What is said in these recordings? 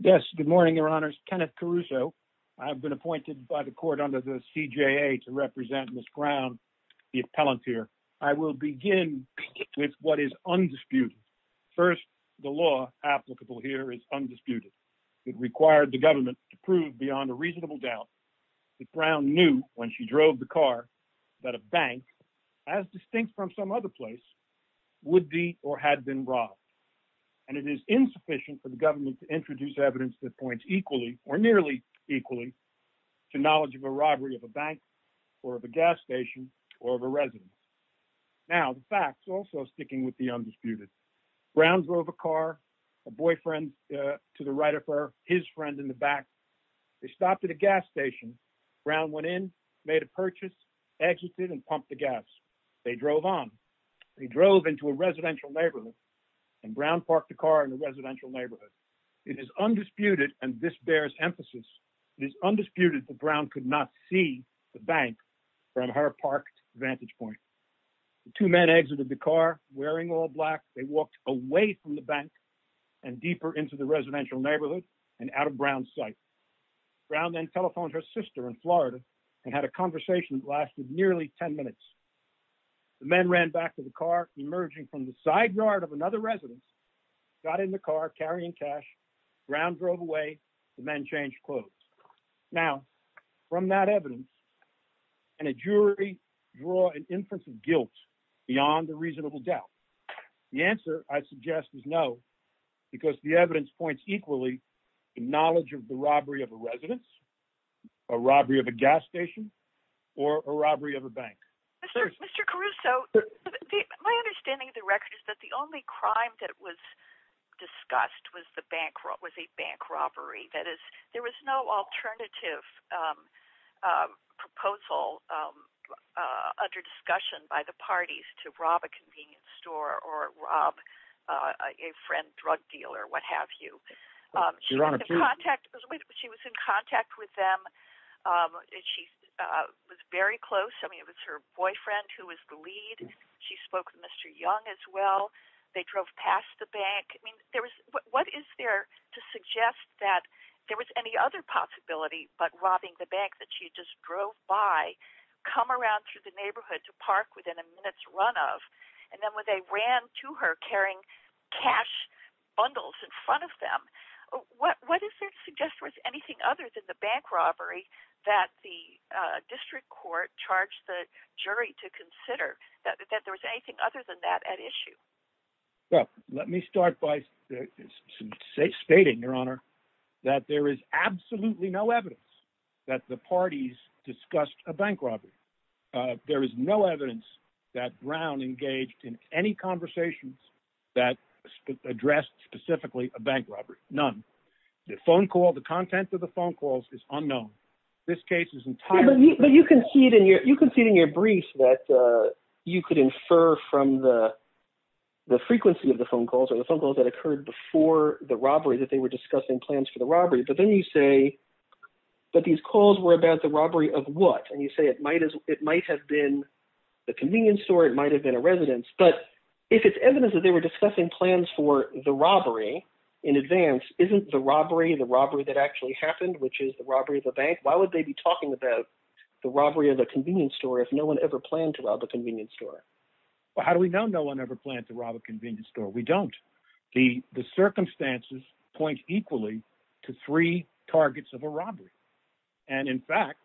Yes, good morning, Your Honors. Kenneth Caruso. I've been appointed by the court under the CJA to represent Ms. Brown, the appellant here. I will begin with what is undisputed. First, the law applicable here is undisputed. It required the government to prove beyond a reasonable doubt that Brown knew when she drove the car that a bank, as distinct from some other place, would be or had been robbed. And it is insufficient for the government to introduce evidence that points equally or nearly equally to knowledge of a robbery of a bank or of a gas station or of a residence. Now, the facts also sticking with the undisputed. Brown drove a car, a boyfriend to the right of her, his friend in the back. They stopped at a gas station. Brown went in, made a purchase, exited and pumped the gas. They drove on. They drove into a residential neighborhood and Brown parked the car in the residential neighborhood. It is undisputed, and this bears emphasis, it is undisputed that Brown could not see the bank from her parked vantage point. The two men exited the car wearing all black. They walked away from the bank and deeper into the residential neighborhood and out of Brown's sight. Brown then telephoned her sister in Florida and had a conversation that lasted nearly 10 minutes. The men ran back to the car, emerging from the side yard of another residence, got in the car carrying cash. Brown drove away. The men changed clothes. Now, from that evidence, can a jury draw an inference of guilt beyond a reasonable doubt? The answer, I suggest, is no, because the evidence points equally to knowledge of the robbery of a residence, a robbery of a gas station, or a robbery of a bank. Mr. Caruso, my understanding of the record is that the only crime that was discussed was a bank under discussion by the parties to rob a convenience store or rob a friend drug dealer, what have you. She was in contact with them. She was very close. I mean, it was her boyfriend who was the lead. She spoke with Mr. Young as well. They drove past the bank. I mean, what is there to suggest that there was any other possibility but robbing the bank that she just drove by come around to the neighborhood to park within a minute's run of, and then when they ran to her carrying cash bundles in front of them, what is there to suggest was anything other than the bank robbery that the district court charged the jury to consider, that there was anything other than that at issue? Well, let me start by stating, Your Honor, that there is absolutely no evidence that the parties discussed a bank robbery. There is no evidence that Brown engaged in any conversations that addressed specifically a bank robbery, none. The phone call, the content of the phone calls is unknown. This case is entirely- But you concede in your brief that you could infer from the frequency of the phone calls or the phone calls that occurred before the robbery that they were discussing plans for the robbery, but then you say that these calls were about the robbery of what? And you say it might have been the convenience store, it might have been a residence, but if it's evidence that they were discussing plans for the robbery in advance, isn't the robbery the robbery that actually happened, which is the robbery of the bank? Why would they be talking about the robbery of the convenience store if no one ever planned to rob a convenience store? Well, how do we know no one ever planned to rob a convenience store? We don't. The circumstances point equally to three targets of a robbery. And in fact,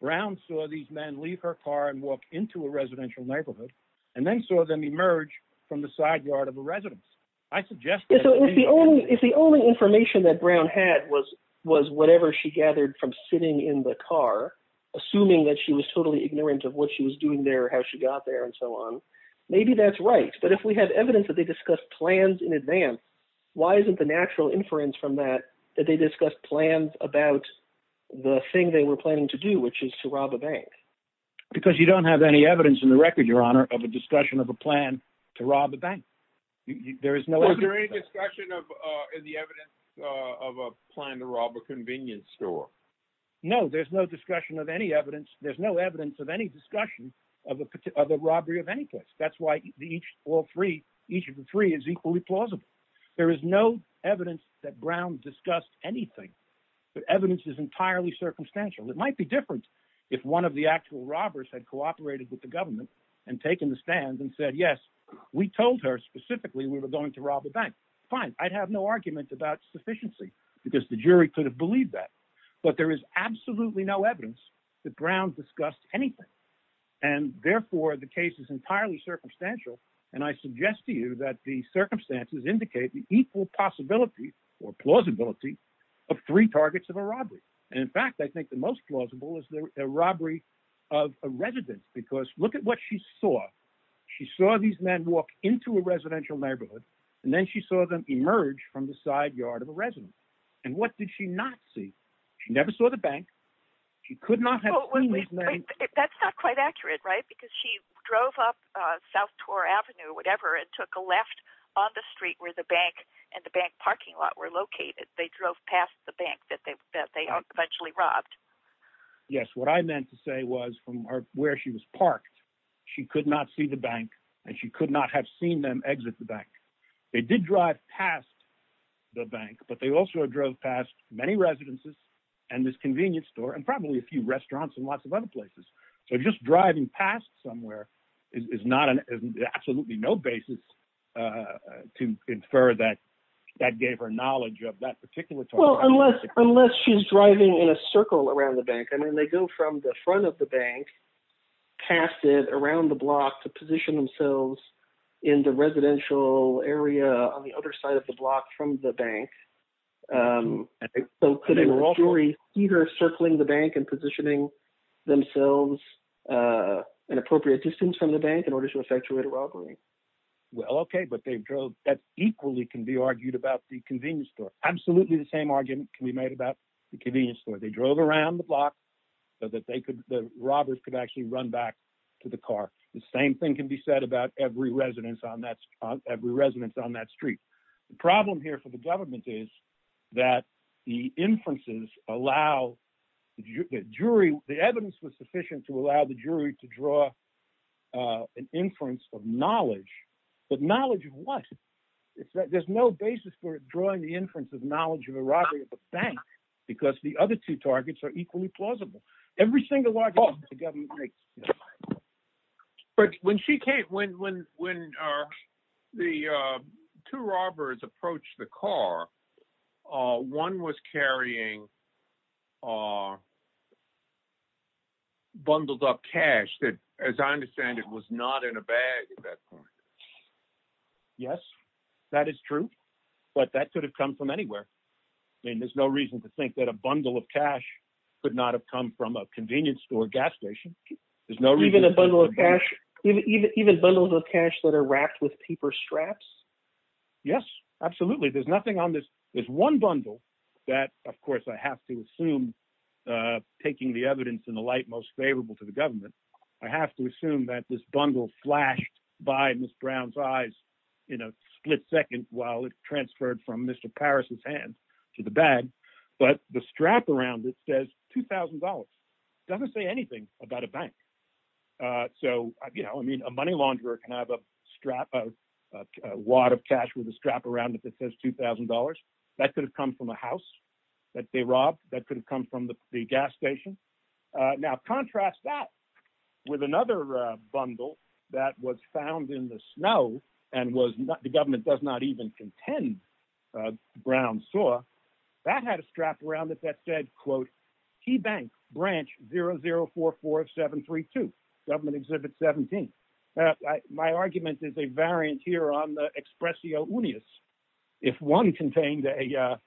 Brown saw these men leave her car and walk into a residential neighborhood, and then saw them emerge from the side yard of a residence. I suggest- If the only information that Brown had was whatever she gathered from sitting in the car, assuming that she was totally ignorant of what she was doing there, how she got there, and so on, maybe that's right. But if we have evidence that they discussed plans in advance, why isn't the natural inference from that that they discussed plans about the thing they were planning to do, which is to rob a bank? Because you don't have any evidence in the record, Your Honor, of a discussion of a plan to rob a bank. There is no- Wasn't there any discussion of the evidence of a plan to rob a convenience store? No, there's no discussion of any evidence. There's no evidence of any discussion of a robbery of any place. That's why each of the three is equally plausible. There is no evidence that Brown discussed anything. The evidence is entirely circumstantial. It might be different if one of the actual robbers had cooperated with the government and taken the stand and said, yes, we told her specifically we were going to rob a bank. Fine. I'd have no argument about sufficiency because the jury could have believed that. But there is absolutely no evidence that Brown discussed anything. And therefore, the case is entirely circumstantial. And I suggest to you that the circumstances indicate the equal possibility or plausibility of three targets of a robbery. And in fact, I think the most plausible is the robbery of a resident. Because look at what she saw. She saw these men walk into a residential neighborhood, and then she saw them emerge from the side yard of a resident. And what did she not see? She never saw the bank. She could not have seen these men. That's not quite accurate, right? Because she drove up South Torre Avenue, whatever, and took a left on the street where the bank and the bank parking lot were located. They drove past the bank that they eventually robbed. Yes. What I meant to say was from where she was parked, she could not see the bank and she could not have seen them exit the bank. They did drive past the bank, but they also drove past many residences and this convenience store and probably a few restaurants and lots of other places. So just driving past somewhere is not an absolutely no basis to infer that that gave her knowledge of that particular. Well, unless unless she's driving in a circle around the bank, I mean, they go from the front of the bank, past it, around the block to position themselves in the residential area on the other side of the block from the bank. So could a jury either circling the bank and positioning themselves an appropriate distance from the bank in order to effectuate a robbery? Well, okay, but they drove. That equally can be argued about the convenience store. Absolutely the same argument can be made about the convenience store. They drove around the block so that they robbers could actually run back to the car. The same thing can be said about every residence on that every residence on that street. The problem here for the government is that the inferences allow the jury. The evidence was sufficient to allow the jury to draw an inference of knowledge, but knowledge of what? There's no basis for drawing the inference of knowledge of a robbery at the government. But when she came, when the two robbers approached the car, one was carrying bundled up cash that, as I understand it, was not in a bag at that point. Yes, that is true, but that could have come from anywhere. I mean, there's no reason to gas station. Even bundles of cash that are wrapped with paper straps? Yes, absolutely. There's nothing on this. There's one bundle that, of course, I have to assume, taking the evidence in the light most favorable to the government, I have to assume that this bundle flashed by Ms. Brown's eyes in a split second while it transferred from Mr. Paris's hand to the bag. But the strap around it says $2,000. It doesn't say anything about a bank. So, you know, I mean, a money launderer can have a strap, a wad of cash with a strap around it that says $2,000. That could have come from a house that they robbed. That could have come from the gas station. Now contrast that with another bundle that was found in the snow and the government does not even contend Brown saw. That had a strap around it that said, quote, Key Bank Branch 0044732, Government Exhibit 17. My argument is a variant here on the expressio unius. If one contained a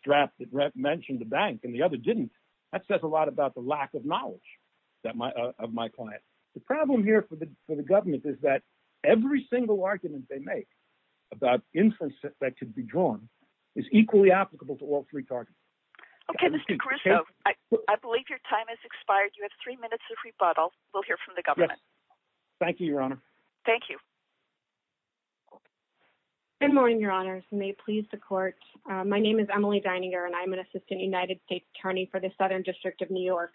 strap that mentioned the bank and the other didn't, that says a lot about the lack of knowledge of my client. The problem here for the government is that every single argument they make about infants that could be drawn is equally applicable to all three targets. Okay, Mr. Caruso, I believe your time has expired. You have three minutes of rebuttal. We'll hear from the government. Thank you, Your Honor. Thank you. Good morning, Your Honors. May it please the court. My name is Emily Dininger, and I'm an assistant United States attorney for the Southern District of New York.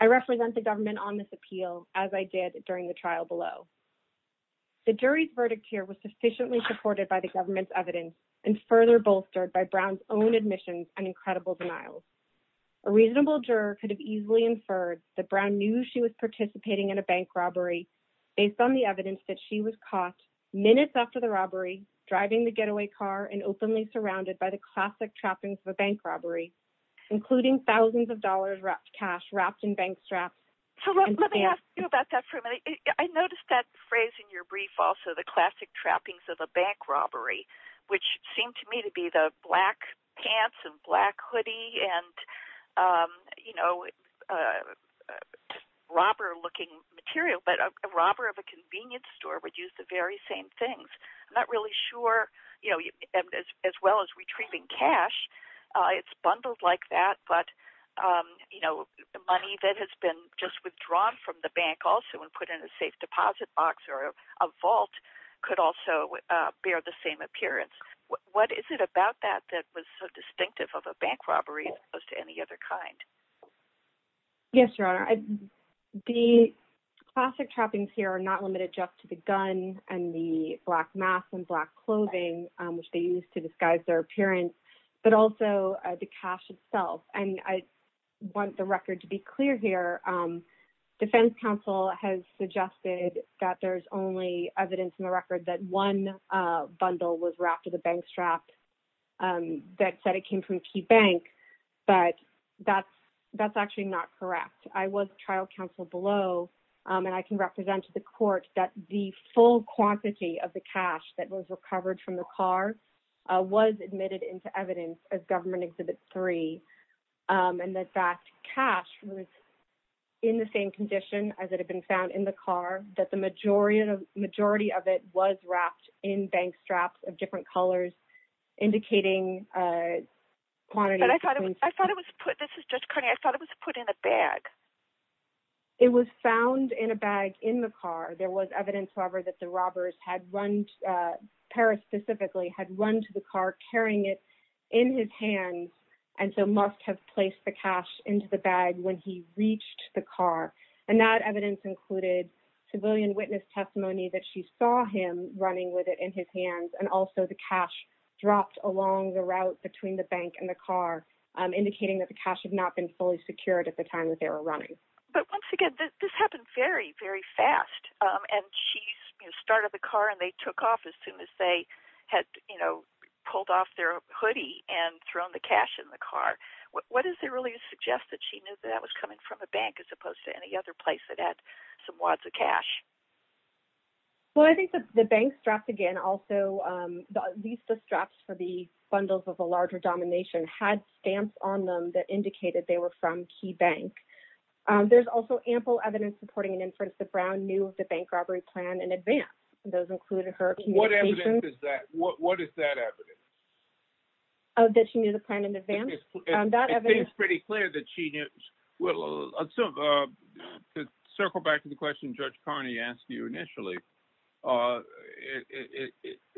I represent the government on this appeal, as I did during the trial below. The jury's verdict here was sufficiently supported by the government's evidence and further bolstered by Brown's own admissions and incredible denial. A reasonable juror could have easily inferred that Brown knew she was participating in a bank robbery based on the evidence that she was caught minutes after the robbery, driving the getaway car and openly surrounded by the classic trappings of a bank trap. So let me ask you about that for a minute. I noticed that phrase in your brief also, the classic trappings of a bank robbery, which seemed to me to be the black pants and black hoodie and, you know, robber-looking material. But a robber of a convenience store would use the very same things. I'm not really sure, you know, as well as retrieving cash, it's bundled like that. But, you know, the money that has been just withdrawn from the bank also and put in a safe deposit box or a vault could also bear the same appearance. What is it about that that was so distinctive of a bank robbery as opposed to any other kind? Yes, Your Honor. The classic trappings here are not limited just to the gun and the black mask and black clothing, which they used to disguise their appearance, but also the cash itself. And I want the record to be clear here. Defense counsel has suggested that there's only evidence in the record that one bundle was wrapped with a bank strap that said it came from Key Bank. But that's actually not correct. I was trial counsel below and I can represent to the court that the full quantity of the cash that was recovered from the car was admitted into evidence as Government Exhibit 3 and that that cash was in the same condition as it had been found in the car, that the majority of it was wrapped in bank straps of different colors indicating quantity. But I thought it was put, this is Judge Carney, I thought it was put in a bag. It was found in a bag in the car. There was evidence, however, that the robbers had run, Paris specifically, had run to the car carrying it in his hands and so must have placed the cash into the bag when he reached the car. And that evidence included civilian witness testimony that she saw him running with it in his hands. And also the cash dropped along the route between the bank and the car, indicating that the cash had not been fully secured at the time that they were running. But once again, this happened very, very fast. And she started the car and they took off as soon as they had, you know, pulled off their hoodie and thrown the cash in the car. What does it really suggest that she knew that was coming from a bank as opposed to any other place that had some wads of cash? Well, I think that the bank straps again, also, these straps for the bundles of a larger domination had stamps on them that indicated they were from Key Bank. There's also ample evidence supporting an inference that Brown knew of the bank robbery plan in advance. Those included her communication... What evidence is that? What is that evidence? That she knew the plan in advance. That evidence... It seems pretty clear that she knew... Well, to circle back to the question Judge Carney asked you initially,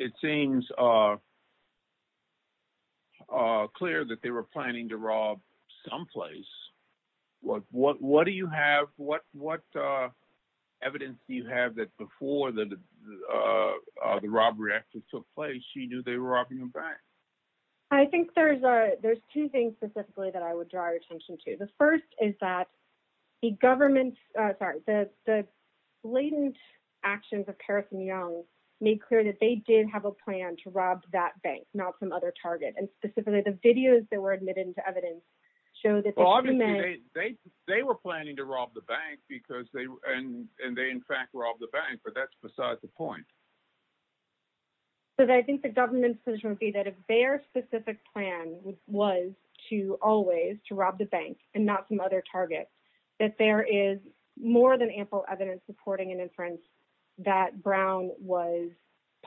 it seems clear that they were planning to rob some place. What evidence do you have that before the robbery actually took place, she knew they were robbing a bank? I think there's two things specifically that I would draw your attention to. The first is that the government, sorry, the blatant actions of Paris and Young made clear that they did have a plan to rob that bank, not some other target. And specifically, the videos that were admitted into evidence show that... Well, obviously, they were planning to rob the bank and they, in fact, robbed the bank, but that's besides the point. Because I think the government's position would be that if their specific plan was to always to rob the bank and not some other target, that there is more than ample evidence supporting an inference that Brown was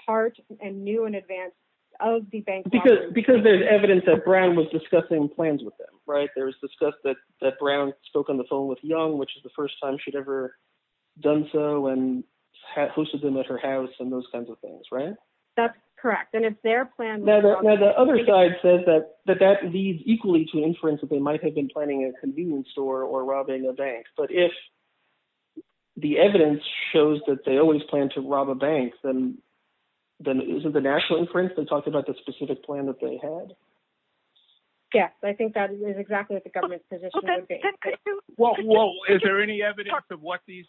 part and knew in advance of the bank robbery. Because there's evidence that Brown was discussing plans with them, right? There was discussed that Brown spoke on the phone with Young, which is the first time she'd ever done so and hosted them at her house and those kinds of things, right? That's correct. And it's their plan... Now, the other side says that that leads equally to inference that they might have been planning a convenience store or robbing a bank. But if the evidence shows that they always plan to rob a bank, then isn't the national inference that talked about the specific plan that they had? Yes, I think that is exactly what the government's position would be. Is there any evidence of what the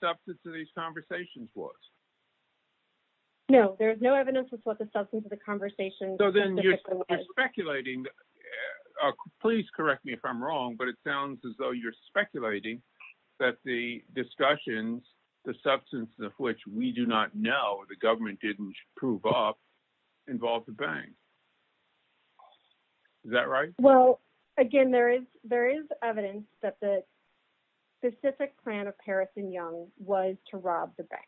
substance of these conversations was? No, there's no evidence as to what the substance of the conversation... So then you're speculating... Please correct me if I'm wrong, but it sounds as though you're speculating that the discussions, the substance of which we do not know, the government didn't prove up, involved the bank. Is that right? Well, again, there is evidence that the specific plan of Harris and Young was to rob the bank.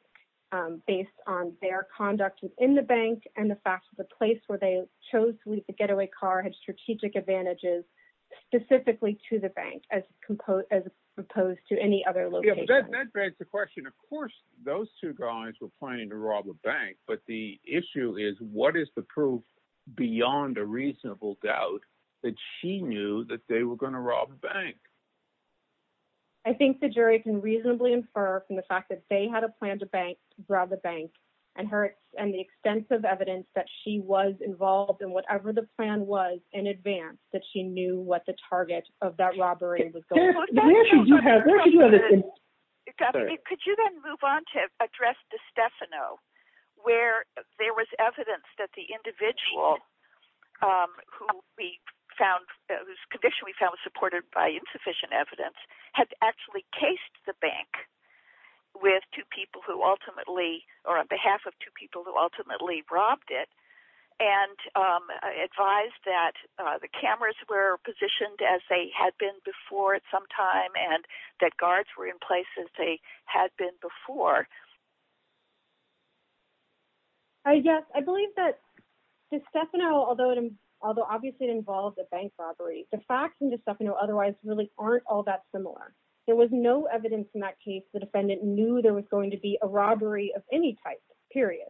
Based on their conduct within the bank and the fact that the place where they chose to leave the getaway car had strategic advantages specifically to the bank as opposed to any other location. That begs the question, of course, those two guys were planning to rob a bank. But the issue is what is the proof beyond a reasonable doubt that she knew that they were going to rob a bank? I think the jury can reasonably infer from the fact that they had a plan to bank the bank and the extensive evidence that she was involved in whatever the plan was in advance, that she knew what the target of that robbery was going to be. There she do have evidence. Could you then move on to address DeStefano, where there was evidence that the individual who we found, whose condition we found was supported by insufficient evidence, had actually cased the bank with two people who ultimately, or on behalf of two people who ultimately robbed it and advised that the cameras were positioned as they had been before at some time and that guards were in places they had been before? Yes, I believe that DeStefano, although obviously it involved a bank robbery, the facts in DeStefano otherwise really aren't all that similar. There was no evidence in that case the defendant knew there was going to be a robbery of any type, period.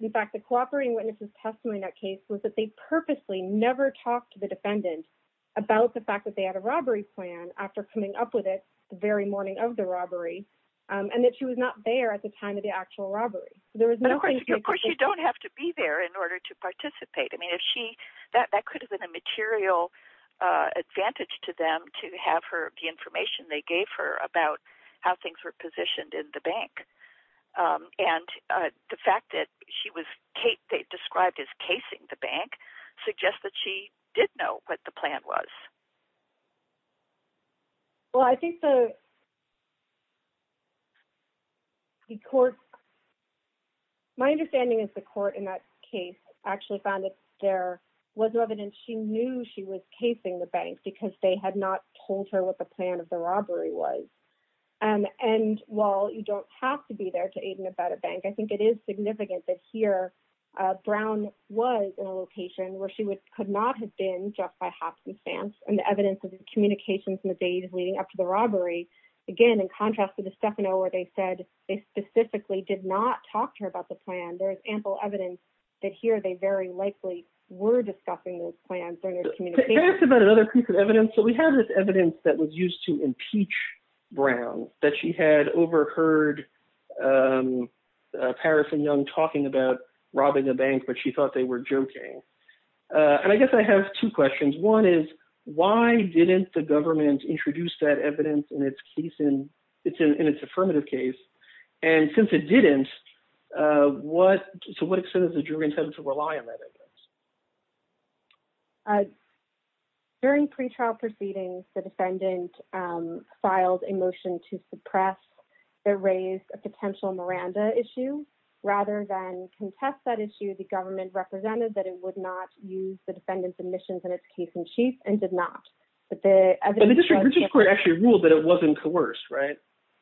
In fact, the cooperating witness's testimony in that case was that they purposely never talked to the defendant about the fact that they had a robbery plan after coming up with it the very morning of the robbery and that she was not there at the time of the actual robbery. Of course, you don't have to be there in order to participate. I mean, that could have been a material advantage to them to have the information they gave her about how things were positioned in the bank. The fact that she was described as casing the bank suggests that she did know what the plan was. Well, I think the court, my understanding is the court in that case actually found that there was no evidence she knew she was casing the bank because they had not told her what the plan of the robbery was. And while you don't have to be there to aid and abet a bank, I think it is significant that here Brown was in a location where she could not have been just by happenstance and the evidence of the communications in the days leading up to the robbery. Again, in contrast to the Stefano where they said they specifically did not talk to her about the plan, there is ample evidence that here they very likely were discussing those plans during their communication. Can I ask about another piece of evidence? So we have this evidence that was used to impeach Brown, that she had overheard Paris and Young talking about robbing a bank, but she thought they were joking. And I guess I have two questions. One is, why didn't the government introduce that evidence in its affirmative case? And since it didn't, so what extent does the jury intend to rely on that evidence? During pretrial proceedings, the defendant filed a motion to suppress or raise a potential Miranda issue. Rather than contest that issue, the government represented that it would not use the defendant's admissions in its case in chief and did not. But the evidence- The district court actually ruled that it wasn't coerced, right?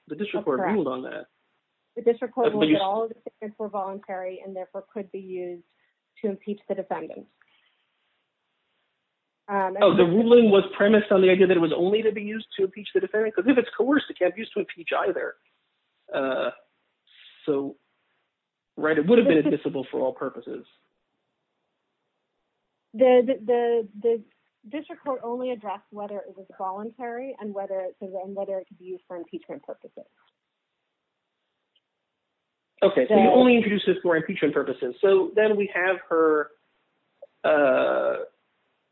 The district court ruled on that. The district court ruled that all of the tickets were voluntary and therefore could be used to impeach the defendant. Oh, the ruling was premised on the idea that it was only to be used to impeach the defendant, because if it's coerced, it can't be used to impeach either. So, right, it would have been admissible for all purposes. The district court only addressed whether it was voluntary and whether it could be used for impeachment purposes. Okay, so you only introduced this for impeachment purposes. So then we have her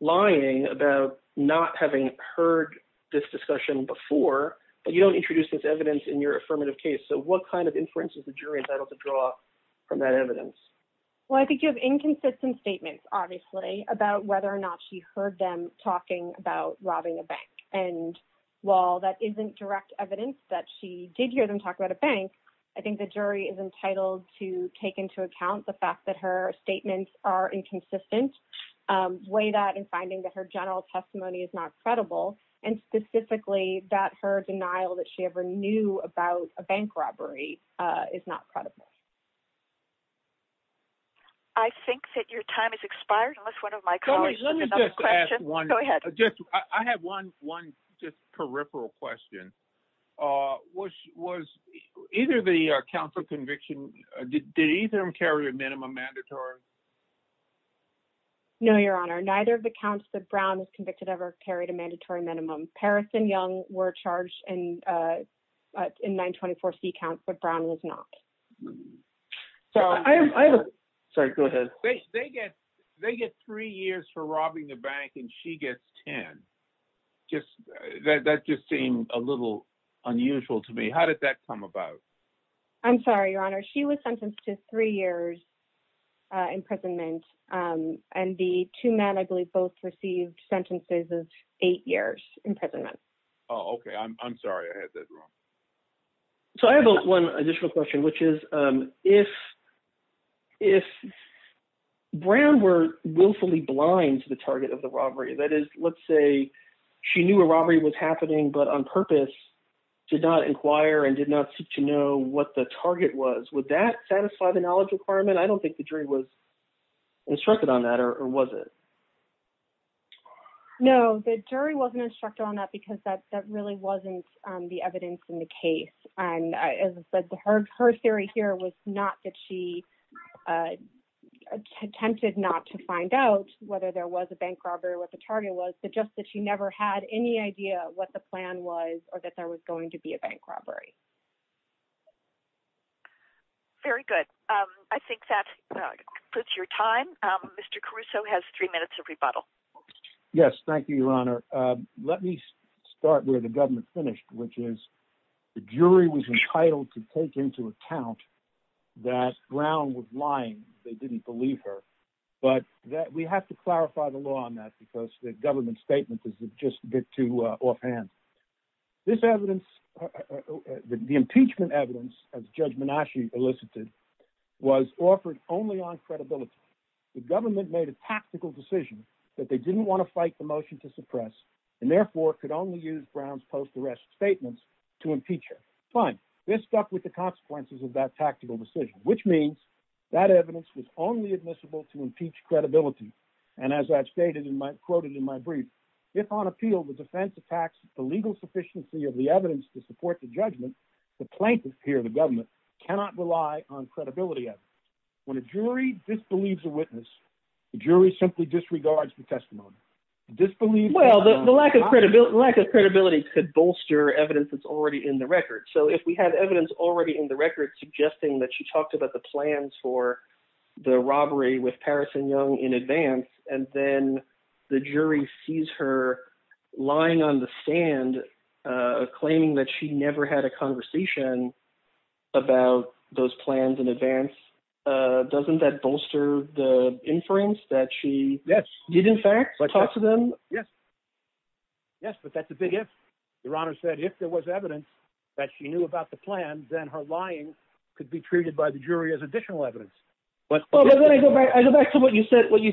lying about not having heard this discussion before, but you don't introduce this evidence in your affirmative case. So what kind of inferences the jury entitled to draw from that evidence? Well, I think you have inconsistent statements, obviously, about whether or not she heard them talking about robbing a bank. And while that isn't direct evidence that she did hear them talk about a bank, I think the jury is entitled to take into account the fact that her statements are inconsistent, weigh that in finding that her general testimony is not credible, and specifically that her denial that she ever knew about a bank robbery is not credible. I think that your time is expired, unless one of my colleagues has another question. Go ahead. Just, I have one just peripheral question. Was either the counsel conviction, did either carry a minimum mandatory? No, Your Honor, neither of the counts that Brown was convicted ever carried a mandatory minimum. Paris and Young were charged in 924C counts, but Brown was not. So I have, sorry, go ahead. They get three years for robbing the bank and she gets 10. Just, that just seemed a little unusual to me. How did that come about? I'm sorry, Your Honor, she was sentenced to three years imprisonment. And the two men, I believe, both received sentences of eight years imprisonment. Oh, okay. I'm sorry I had that wrong. So I have one additional question, which is, if Brown were willfully blind to the target of the robbery, that is, let's say she knew a robbery was happening, but on purpose did not inquire and did not seek to know what the target was, would that satisfy the knowledge requirement? I don't think the jury was instructed on that, or was it? No, the jury wasn't instructed on that because that really wasn't the evidence in the case. And as I said, her theory here was not that she attempted not to find out whether there was a bank robbery or what the target was, but just that she never had any idea what the plan was or that there was going to be a bank robbery. Very good. I think that concludes your time. Mr. Caruso has three minutes of rebuttal. Yes, thank you, Your Honor. Let me start where the government finished, which is the jury was entitled to take into account that Brown was lying. They didn't believe her. But we have to clarify the law on that because the government statement is just a bit too offhand. This evidence, the impeachment evidence, as Judge Minasci elicited, was offered only on credibility. The government made a tactical decision that they didn't want to fight the motion to suppress and therefore could only use Brown's post-arrest statements to impeach her. Fine. This stuck with the consequences of that tactical decision, which means that evidence was only admissible to impeach credibility. And as I've stated and quoted in my brief, if on appeal the defense attacks the legal sufficiency of the evidence to support the witness, the jury simply disregards the testimony. Well, the lack of credibility could bolster evidence that's already in the record. So if we have evidence already in the record suggesting that she talked about the plans for the robbery with Paris and Young in advance, and then the jury sees her lying on the sand, claiming that she never had a conversation about those plans in inference that she did in fact talk to them. Yes, but that's a big if. Your Honor said if there was evidence that she knew about the plan, then her lying could be treated by the jury as additional evidence. I go back to what you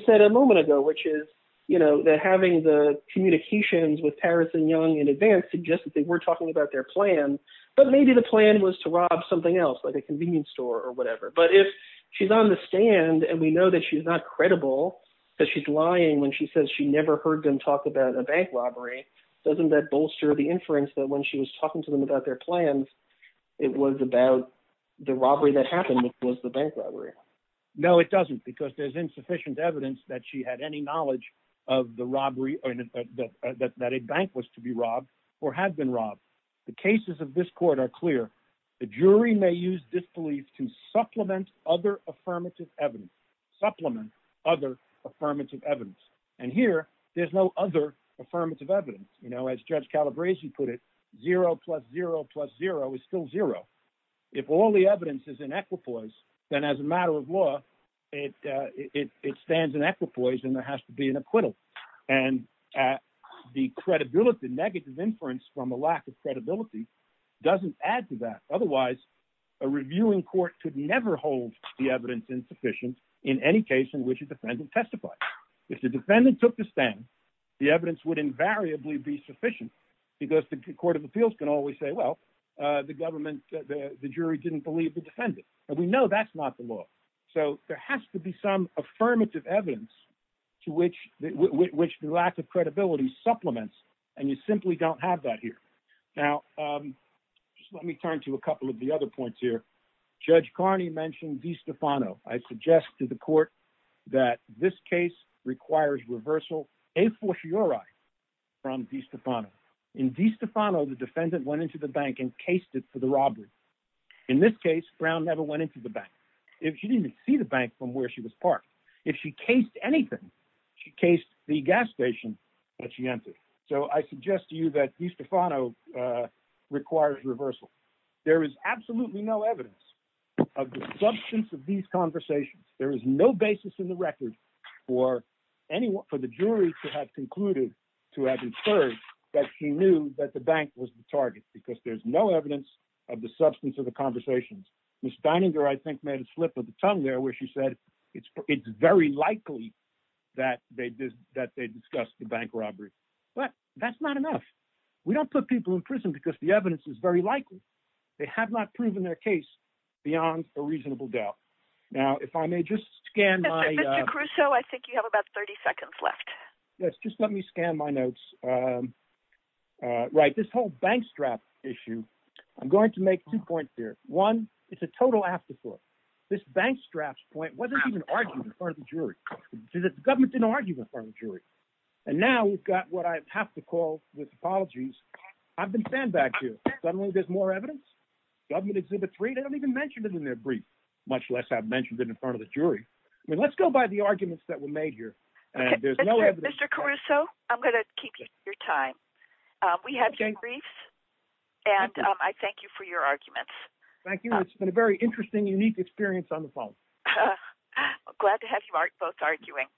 said a moment ago, which is, you know, that having the communications with Paris and Young in advance suggested they were talking about their plan, but maybe the plan was to rob something else like a convenience store or whatever. But if she's on the stand, and we know that she's not credible because she's lying when she says she never heard them talk about a bank robbery, doesn't that bolster the inference that when she was talking to them about their plans, it was about the robbery that happened, which was the bank robbery? No, it doesn't, because there's insufficient evidence that she had any knowledge of the robbery or that a bank was to be robbed or had been robbed. The cases of this evidence supplement other affirmative evidence. And here there's no other affirmative evidence. You know, as Judge Calabrese put it, zero plus zero plus zero is still zero. If all the evidence is in equipoise, then as a matter of law, it stands in equipoise and there has to be an acquittal. And the credibility, negative inference from a lack of credibility doesn't add to that. Otherwise, a reviewing court could never hold the evidence insufficient in any case in which a defendant testified. If the defendant took the stand, the evidence would invariably be sufficient, because the court of appeals can always say, well, the government, the jury didn't believe the defendant. And we know that's not the law. So there has to be some affirmative evidence to which the lack of credibility supplements. And you simply don't have that here. Now, just let me turn to a couple of the other points here. Judge Carney mentioned DiStefano. I suggest to the court that this case requires reversal, a fortiori, from DiStefano. In DiStefano, the defendant went into the bank and cased it for the robbery. In this case, Brown never went into the bank. She didn't even see the bank from where she was parked. If she cased anything, she cased the gas station that she entered. So I suggest to you that DiStefano requires reversal. There is absolutely no evidence of the substance of these conversations. There is no basis in the record for the jury to have concluded, to have inferred that she knew that the bank was the target, because there's no evidence of the substance of the conversations. Ms. Dininger, I think, made a slip of the tongue there, where she said it's very likely that they discussed the bank robbery. But that's not enough. We don't put people in prison because the evidence is very likely. They have not proven their case beyond a reasonable doubt. Now, if I may just scan my... Mr. Crusoe, I think you have about 30 seconds left. Yes, just let me scan my notes. Right, this whole bank strap issue, I'm going to make two points here. One, it's a total afterthought. This bank straps point wasn't even argued in front of the jury. The government didn't argue in front of the jury. And now we've got what I have to call with apologies. I've been fanned back here. Suddenly there's more evidence. Government Exhibit 3, they don't even mention it in their brief, much less I've mentioned it in front of the jury. I mean, let's go by the arguments that were made here. Mr. Crusoe, I'm going to keep you to your time. We have your briefs and I thank you for your arguments. Thank you. It's been a very interesting, unique experience on the phone. Glad to have you both arguing.